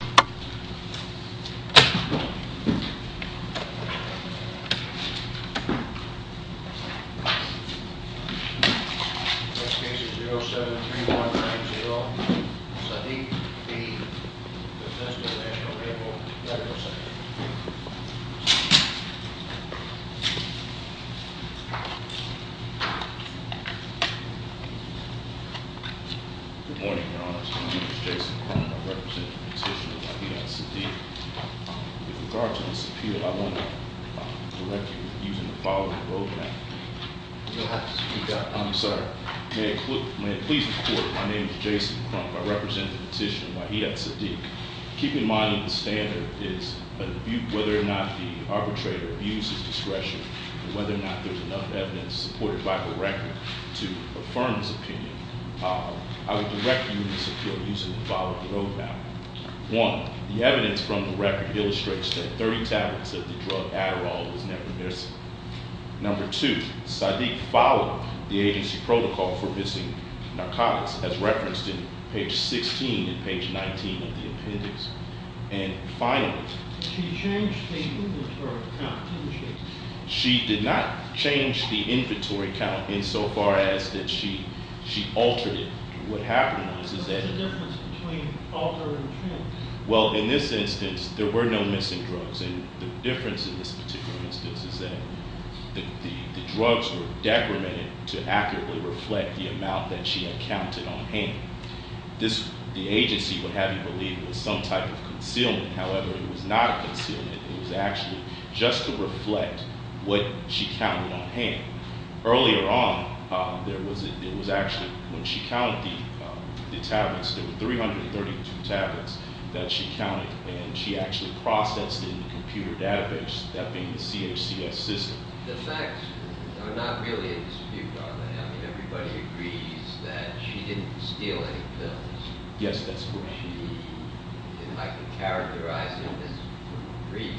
Next case is 073190, Sadiq v. Bethesda National Air Force, Dr. Sadiq Good morning, Your Honor. My name is Jason Crump. I represent the petitioner, Waheed v. Sadiq. With regard to this appeal, I want to correct you using the following road map. May it please the Court, my name is Jason Crump. I represent the petitioner, Waheed v. Sadiq. Keep in mind that the standard is whether or not the arbitrator abuses discretion and whether or not there's enough evidence supported by the record to affirm his opinion. I would direct you in this appeal using the following road map. One, the evidence from the record illustrates that 30 tablets of the drug Adderall was never missing. Number two, Sadiq followed the agency protocol for missing narcotics as referenced in page 16 and page 19 of the appendix. And finally, she changed the inventory count. She did not change the inventory count insofar as that she altered it. What happened was that What's the difference between altered and changed? Well, in this instance, there were no missing drugs, and the difference in this particular instance is that the drugs were The agency would have you believe it was some type of concealment. However, it was not a concealment. It was actually just to reflect what she counted on hand. Earlier on, there was actually when she counted the tablets, there were 332 tablets that she counted and she actually processed it in the computer database, that being the CHCS system. The facts are not really in dispute on that. I mean, everybody agrees that she didn't steal any pills. Yes, that's correct. I can characterize it in this brief.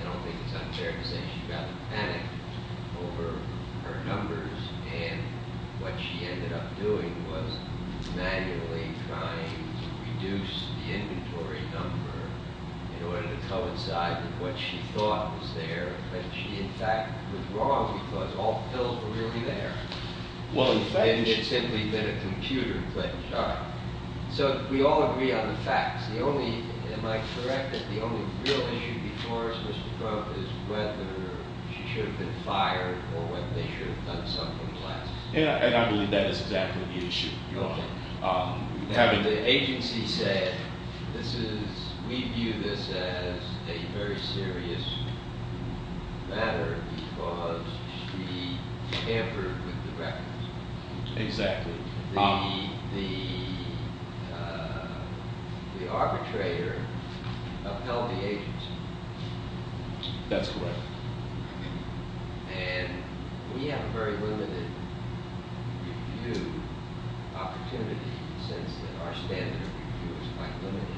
I don't think it's unfair to say she got panicked over her numbers and what she ended up doing was manually trying to reduce the inventory number in order to coincide with what she thought was there. But she, in fact, was wrong because all pills were really there. And it's simply been a computer glitch. So we all agree on the facts. Am I correct that the only real issue before us, Mr. Croak, is whether she should have been fired or whether they should have done something less. And I believe that is exactly the issue. The agency said, we view this as a very serious matter because she tampered with the records. Exactly. The arbitrator upheld the agency. That's correct. And we have a very limited review opportunity since our standard of review is quite limited.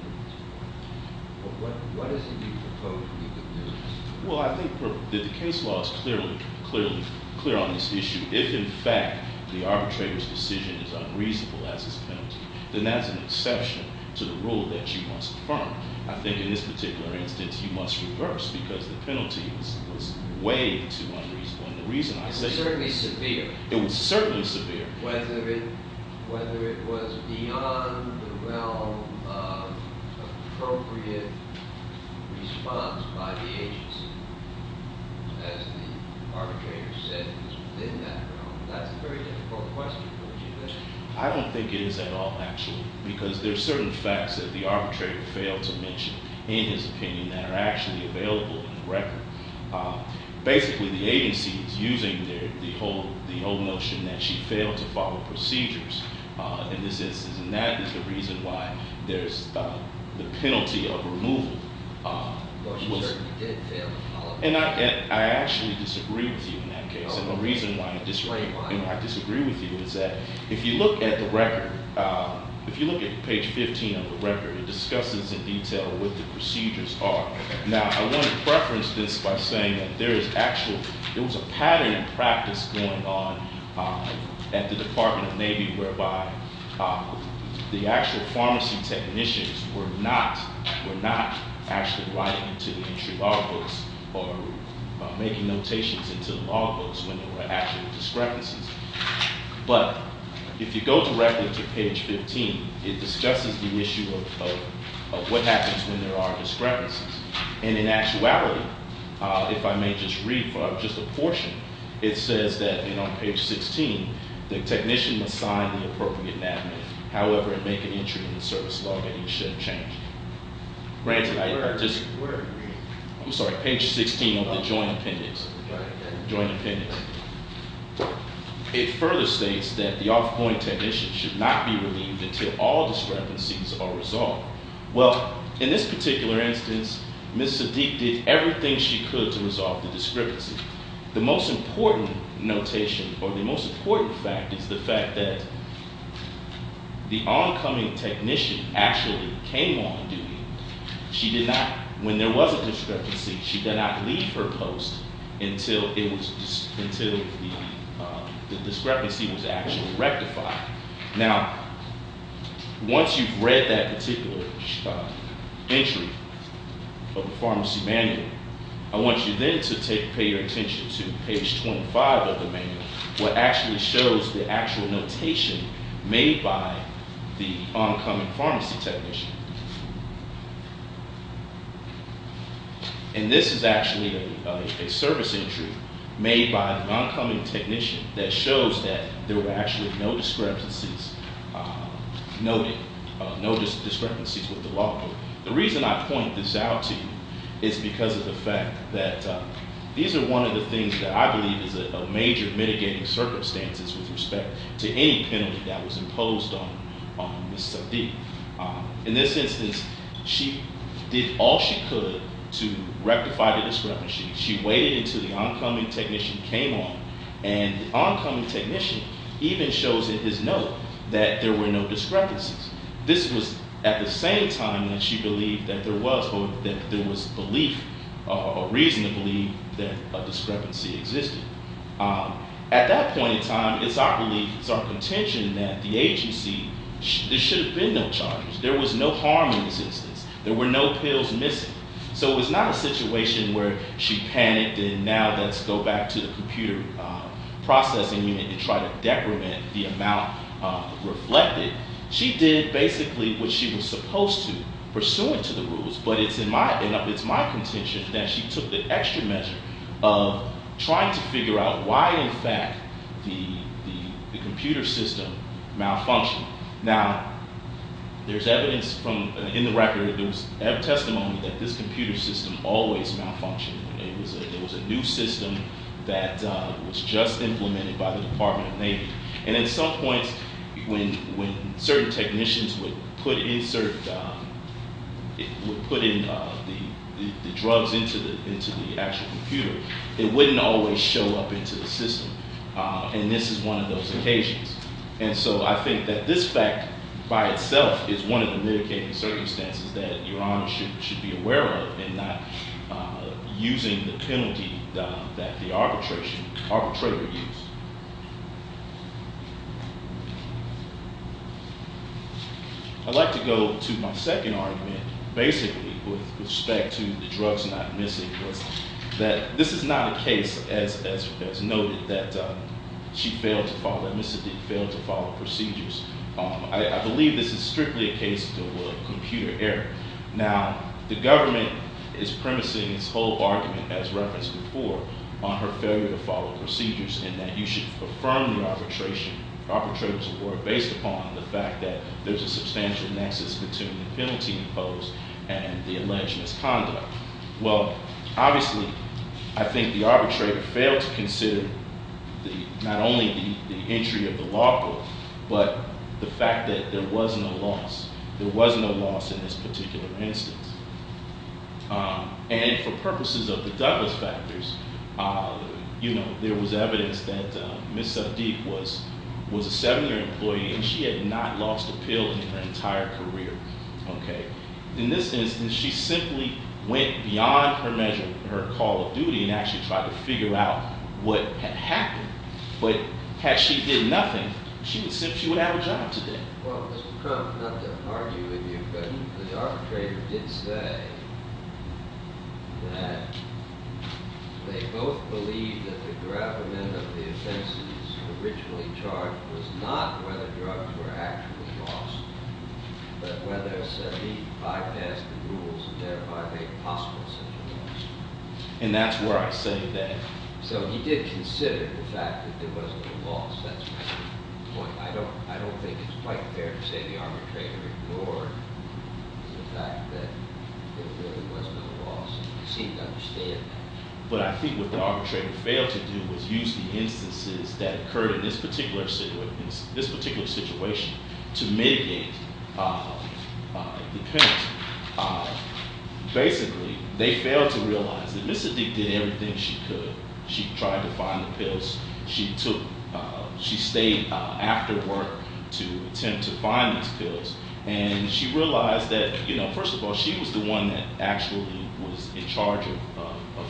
What is it you propose we could do? Well, I think the case law is clearly clear on this issue. If, in fact, the arbitrator's decision is unreasonable as his penalty, then that's an exception to the rule that she must affirm. I think in this particular instance, he must reverse because the penalty was way too unreasonable. It was certainly severe. It was certainly severe. Whether it was beyond the realm of appropriate response by the agency, as the arbitrator said it was within that realm, that's a very difficult question for you to answer. I don't think it is at all, actually, because there are certain facts that the arbitrator failed to mention in his opinion that are actually available in the record. Basically, the agency is using the whole notion that she failed to follow procedures in this instance, and that is the reason why there's the penalty of removal. Well, she certainly did fail to follow. And I actually disagree with you in that case, and the reason why I disagree with you is that if you look at the record, if you go directly to page 15, it discusses the issue of what happens when there are discrepancies. And in actuality, if I may just read for just a portion, it says that on page 16, the technician must sign the appropriate enactment, however, and make an entry in the service law that he should change. Granted, I just- We're agreeing. I'm sorry, page 16 of the joint appendix. Right. Joint appendix. It further states that the off-point technician should not be relieved until all discrepancies are resolved. Well, in this particular instance, Ms. Sadiq did everything she could to resolve the discrepancy. The most important notation or the most important fact is the fact that the oncoming technician actually came on duty. She did not, when there was a discrepancy, she did not leave her post until the discrepancy was actually rectified. Now, once you've read that particular entry of the pharmacy manual, I want you then to pay your attention to page 25 of the manual, what actually shows the actual notation made by the oncoming pharmacy technician. And this is actually a service entry made by the oncoming technician that shows that there were actually no discrepancies noted, no discrepancies with the law. The reason I point this out to you is because of the fact that these are one of the things that I believe is a major mitigating circumstances with respect to any penalty that was imposed on Ms. Sadiq. In this instance, she did all she could to rectify the discrepancy. She waited until the oncoming technician came on, and the oncoming technician even shows in his note that there were no discrepancies. This was at the same time that she believed that there was belief or reason to believe that a discrepancy existed. At that point in time, it's our belief, it's our contention that the agency, there should have been no charges. There was no harm in this instance. There were no pills missing. So it was not a situation where she panicked and now let's go back to the computer processing unit and try to decrement the amount reflected. She did basically what she was supposed to, pursuant to the rules, but it's my contention that she took the extra measure of trying to figure out why, in fact, the computer system malfunctioned. Now, there's evidence in the record, there was always malfunctioning. There was a new system that was just implemented by the Department of Navy. And at some point, when certain technicians would put in the drugs into the actual computer, it wouldn't always show up into the system. And this is one of those occasions. And so I think that this fact by itself is one of the mitigating circumstances that Your Honor should be aware of in not using the penalty that the arbitrator used. I'd like to go to my second argument, basically, with respect to the drugs not missing. This is not a case, as noted, that she failed to follow, that Mr. Dick failed to follow procedures. I believe this is strictly a case of the computer error. Now, the government is premising its whole argument, as referenced before, on her failure to follow procedures, and that you should affirm your arbitration, arbitrators were based upon the fact that there's a substantial nexus between the penalty imposed and the alleged misconduct. Well, obviously, I think the arbitrator failed to consider not only the entry of the law court, but the fact that there was no loss. There was no loss in this particular instance. And for purposes of the Douglas factors, there was evidence that Ms. Sadiq was a seven-year employee, and she had not lost a pill in her entire career. In this instance, she simply went beyond her call of duty and actually tried to figure out what had happened. But had she did nothing, she would have a job today. Well, Mr. Crump, not to argue with you, but the arbitrator did say that they both believed that the gravamen of the offenses originally charged was not whether drugs were actually lost, but whether Sadiq bypassed the rules and thereby made possible such a loss. And that's where I say that. So he did consider the fact that there was no loss. That's my point. I don't think it's quite fair to say the arbitrator ignored the fact that there really was no loss. He seemed to understand that. But I think what the arbitrator failed to do was use the instances that occurred in this particular situation to mitigate the penalty. Basically, they failed to realize that Ms. Sadiq did everything she could. She tried to find the pills. She stayed after work to attempt to find these pills. And she realized that, first of all, she was the one that actually was in charge of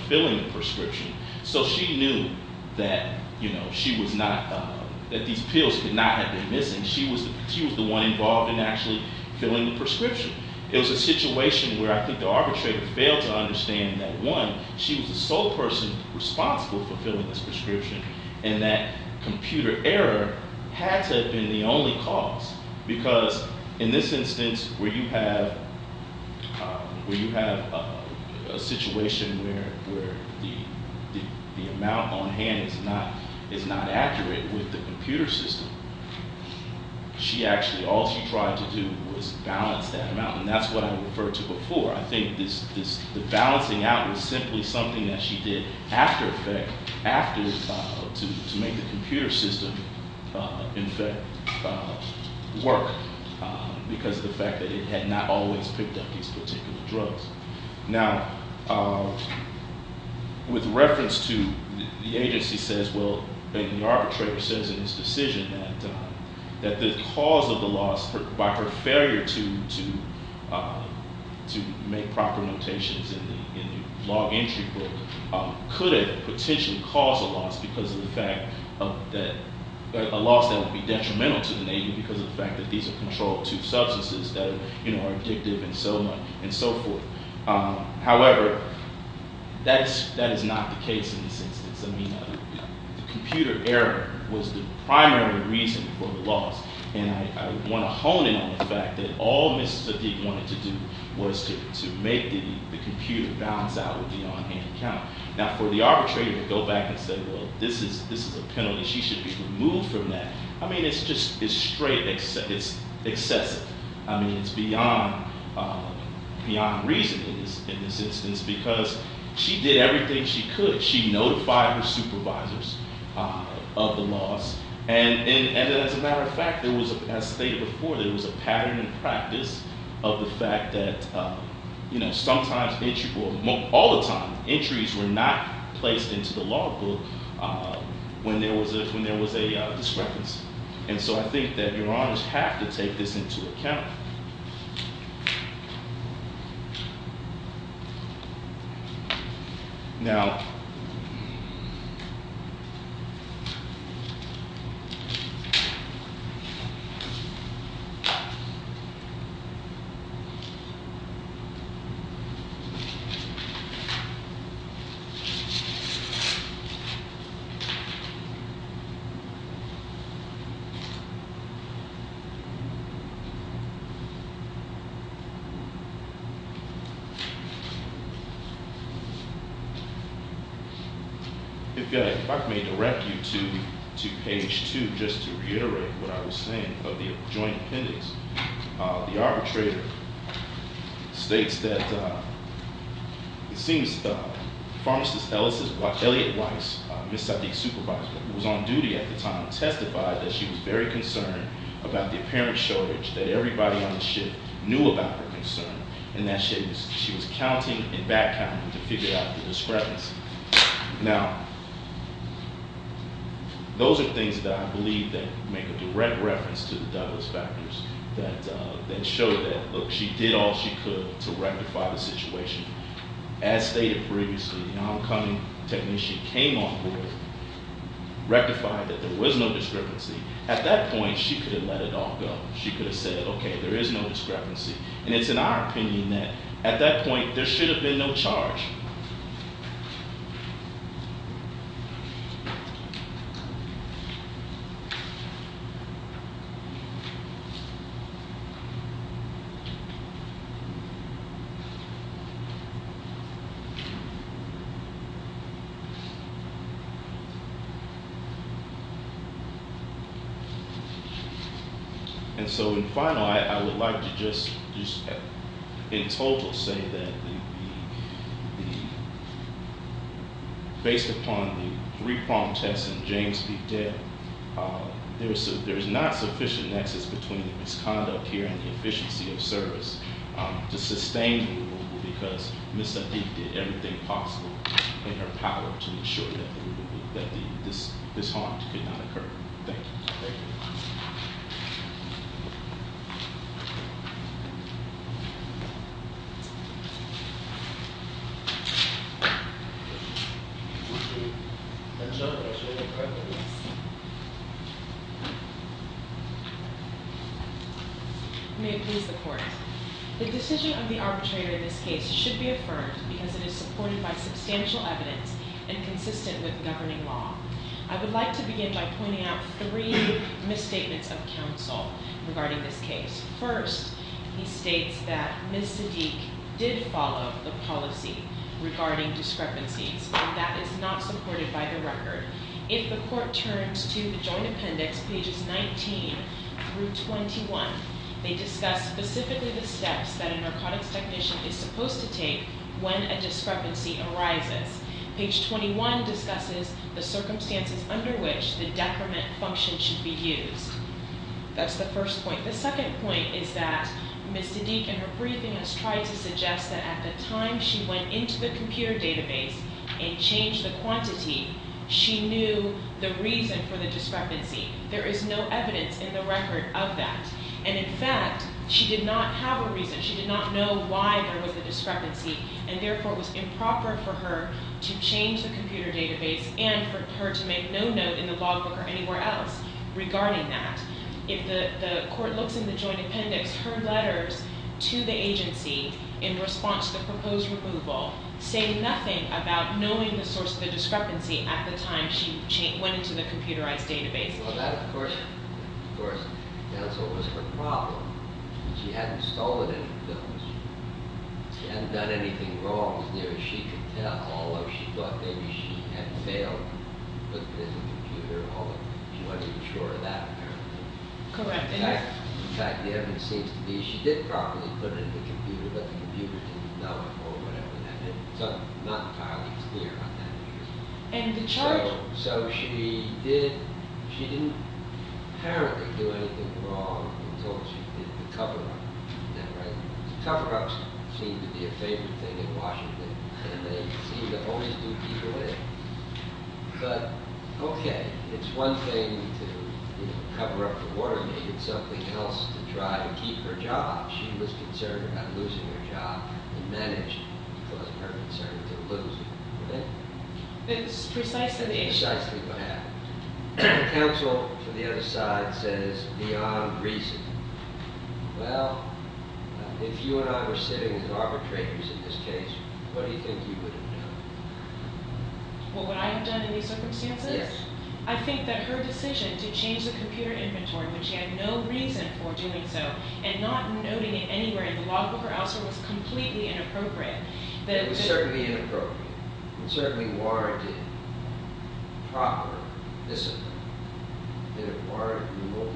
filling the prescription. So she knew that these pills could not have been missing. She was the one involved in actually filling the prescription. It was a situation where I think the arbitrator failed to understand that, one, she was the sole person responsible for filling this prescription, and that computer error had to have been the situation where the amount on hand is not accurate with the computer system. She actually, all she tried to do was balance that amount. And that's what I referred to before. I think the balancing out was simply something that she did after to make the computer system in fact work because of the fact that it had not always picked up these particular drugs. Now, with reference to the agency says, well, the arbitrator says in his decision that the cause of the loss, by her failure to make proper notations in the log entry book, could potentially cause a loss that would be detrimental to the nation because of the fact that these are controlled substances that are addictive and so on and so forth. However, that is not the case in this instance. I mean, the computer error was the primary reason for the loss. And I want to hone in on the fact that all Ms. Zadig wanted to do was to make the computer balance out with the on-hand count. Now, for the arbitrator to go back and say, well, this is a penalty. She should be removed from that. I mean, it's just straight excessive. I mean, it's beyond reason in this instance because she did everything she could. She notified her supervisors of the loss. And as a matter of fact, as stated before, there was a pattern in practice of the fact that sometimes, all the time, entries were not placed into the log book when there was a discrepancy. And so I think that your honors have to take this into account. Now, if I may direct you to page two, just to reiterate what I was saying of the joint appendix. The arbitrator states that it seems Pharmacist Elliot Weiss, Ms. Zadig's supervisor, who was on duty at the time, testified that she was very concerned about the apparent shortage that everybody on the shift knew about her concern, and that she was counting and back counting to figure out the discrepancy. Now, those are things that I believe that make a direct reference to the Douglas factors that show that, look, she did all she could to rectify the situation. As stated previously, the oncoming technician came on board, rectified that there was no discrepancy. At that point, she could have let it all go. She could have said, okay, there is no discrepancy. And it's in our opinion that, at that point, there should have been no charge. And so, in final, I would like to just, in total, say that the Based upon the three-pronged test and James B. Dell, there is not sufficient nexus between the misconduct here and the efficiency of service to sustain the removal because Ms. Zadig did everything possible in her power to ensure that this harm could not occur. Thank you. May it please the court. The decision of the arbitrator in this case should be and consistent with governing law. I would like to begin by pointing out three misstatements of counsel regarding this case. First, he states that Ms. Zadig did follow the policy regarding discrepancies, and that is not supported by the record. If the court turns to joint appendix pages 19 through 21, they discuss specifically the steps that a narcotics technician is supposed to take when a discrepancy arises. Page 21 discusses the circumstances under which the decrement function should be used. That's the first point. The second point is that Ms. Zadig, in her briefing, has tried to suggest that at the time she went into the computer database and changed the quantity, she knew the reason for the discrepancy. There is no evidence in the record of that. And in fact, she did not have a reason. She did not know why there was a discrepancy, and therefore it was improper for her to change the computer database and for her to make no note in the law book or anywhere else regarding that. If the court looks in the joint appendix, her letters to the agency in response to the proposed removal say nothing about knowing the source of the discrepancy at the time she went into the computerized database. Well, that of course was her problem. She hadn't stolen any films. She hadn't done anything wrong as near as she could tell, although she thought maybe she had failed putting it in the computer, although she wanted to ensure that apparently. In fact, the evidence seems to be that she did properly put it in the computer, but the computer didn't know it or whatever that meant. It's not entirely clear on that. So she didn't apparently do anything wrong until she did the cover-up. Now, cover-ups seem to be a favorite thing in Washington, and they seem to always do people in. But okay, it's one thing to cover up the warning. It's something else to try to keep her job. She was concerned about losing her job and managed to cause her concern to lose it. It's precisely what happened. The counsel for the other side says beyond reason. Well, if you and I were sitting as arbitrators in this case, what do you think you would have done? What would I have done in these circumstances? Yes. I think that her decision to change the computer inventory when she had no reason for doing so and not noting it anywhere in the law book or elsewhere was completely inappropriate. It was certainly inappropriate. It was certainly warranted proper discipline. Did it warrant removal?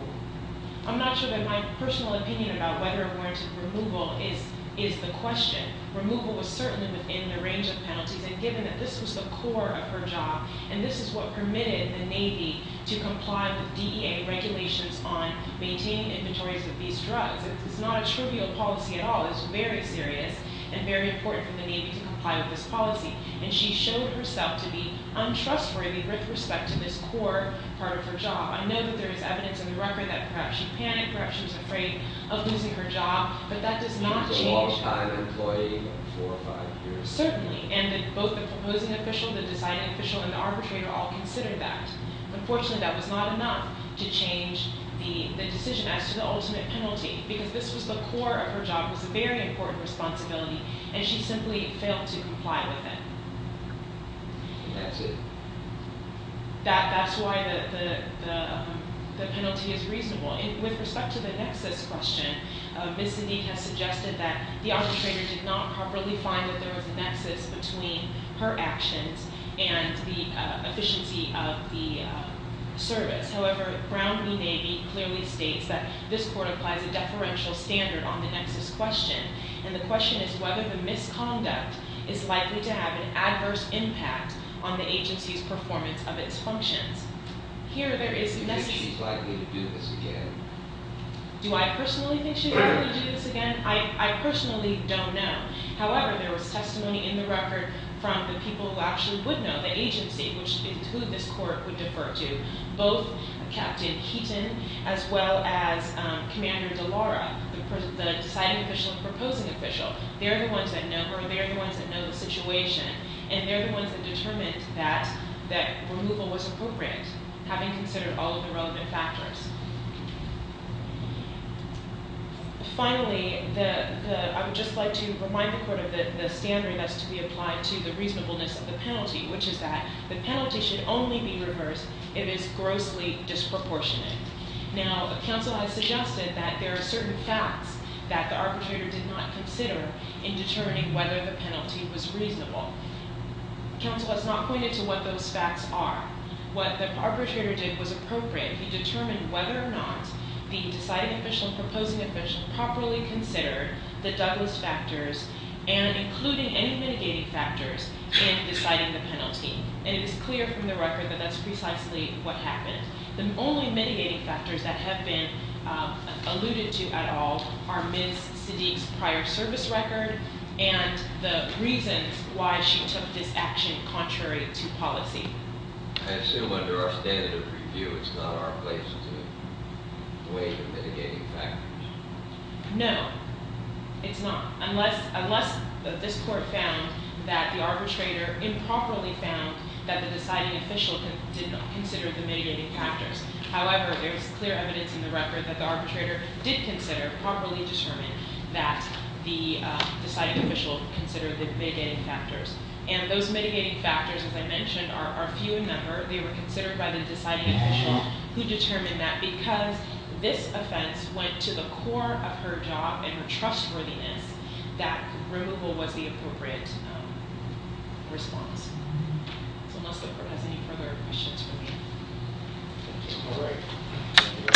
I'm not sure that my personal opinion about whether it warranted removal is the question. Removal was certainly within the range of penalties, and given that this was the core of her job and this is what permitted the Navy to comply with DEA regulations on maintaining inventories of these drugs. It's not a trivial policy at all. It's very serious and very important for the Navy to comply with this policy. And she showed herself to be untrustworthy with respect to this core part of her job. I know that there is evidence in the record that perhaps she panicked, perhaps she was afraid of losing her job, but that does not change. She was a long-time employee for four or five years. Certainly, and both the proposing official, the deciding official, and the arbitrator all considered that. Unfortunately, that was not enough to change the decision as to the ultimate penalty because this was the core of her job. It was a very important responsibility, and she simply failed to comply with it. That's it? That's why the penalty is reasonable. With respect to the nexus question, Ms. Sanik has suggested that the arbitrator did not properly find that there was a nexus between her actions and the efficiency of the service. However, Brown v. Navy clearly states that this court applies a deferential standard on the nexus question, and the question is whether the misconduct is likely to have an adverse impact on the agency's performance of its functions. Here there is a nexus question. Do you think she's likely to do this again? Do I personally think she's likely to do this again? I personally don't know. However, there was testimony in the record from the people who actually would know, the agency, which is who this court would defer to, both Captain Heaton as well as Commander DeLaura, the deciding official and proposing official. They're the ones that know her. They're the ones that know the situation, and they're the ones that determined that removal was appropriate, having considered all of the relevant factors. Finally, I would just like to remind the court of the standard that's to be applied to the reasonableness of the penalty, which is that the penalty should only be reversed if it is grossly disproportionate. Now, counsel has suggested that there are certain facts that the arbitrator did not consider in determining whether the penalty was reasonable. Counsel has not pointed to what those facts are. What the arbitrator did was appropriate. He determined whether or not the deciding official and proposing official properly considered the Douglas factors and included any mitigating factors in deciding the penalty. And it is clear from the record that that's precisely what happened. The only mitigating factors that have been alluded to at all are Ms. Sadiq's prior service record and the reasons why she took this action contrary to policy. I assume under our standard of review, it's not our place to weigh the mitigating factors. No, it's not, unless this court found that the arbitrator improperly found that the deciding official did not consider the mitigating factors. However, there is clear evidence in the record that the arbitrator did consider, properly determine that the deciding official considered the mitigating factors. And those mitigating factors, as I mentioned, are few in number. They were considered by the deciding official who determined that because this offense went to the core of her job and her trustworthiness, that removal was the appropriate response. So unless the court has any further questions for me, thank you. All right.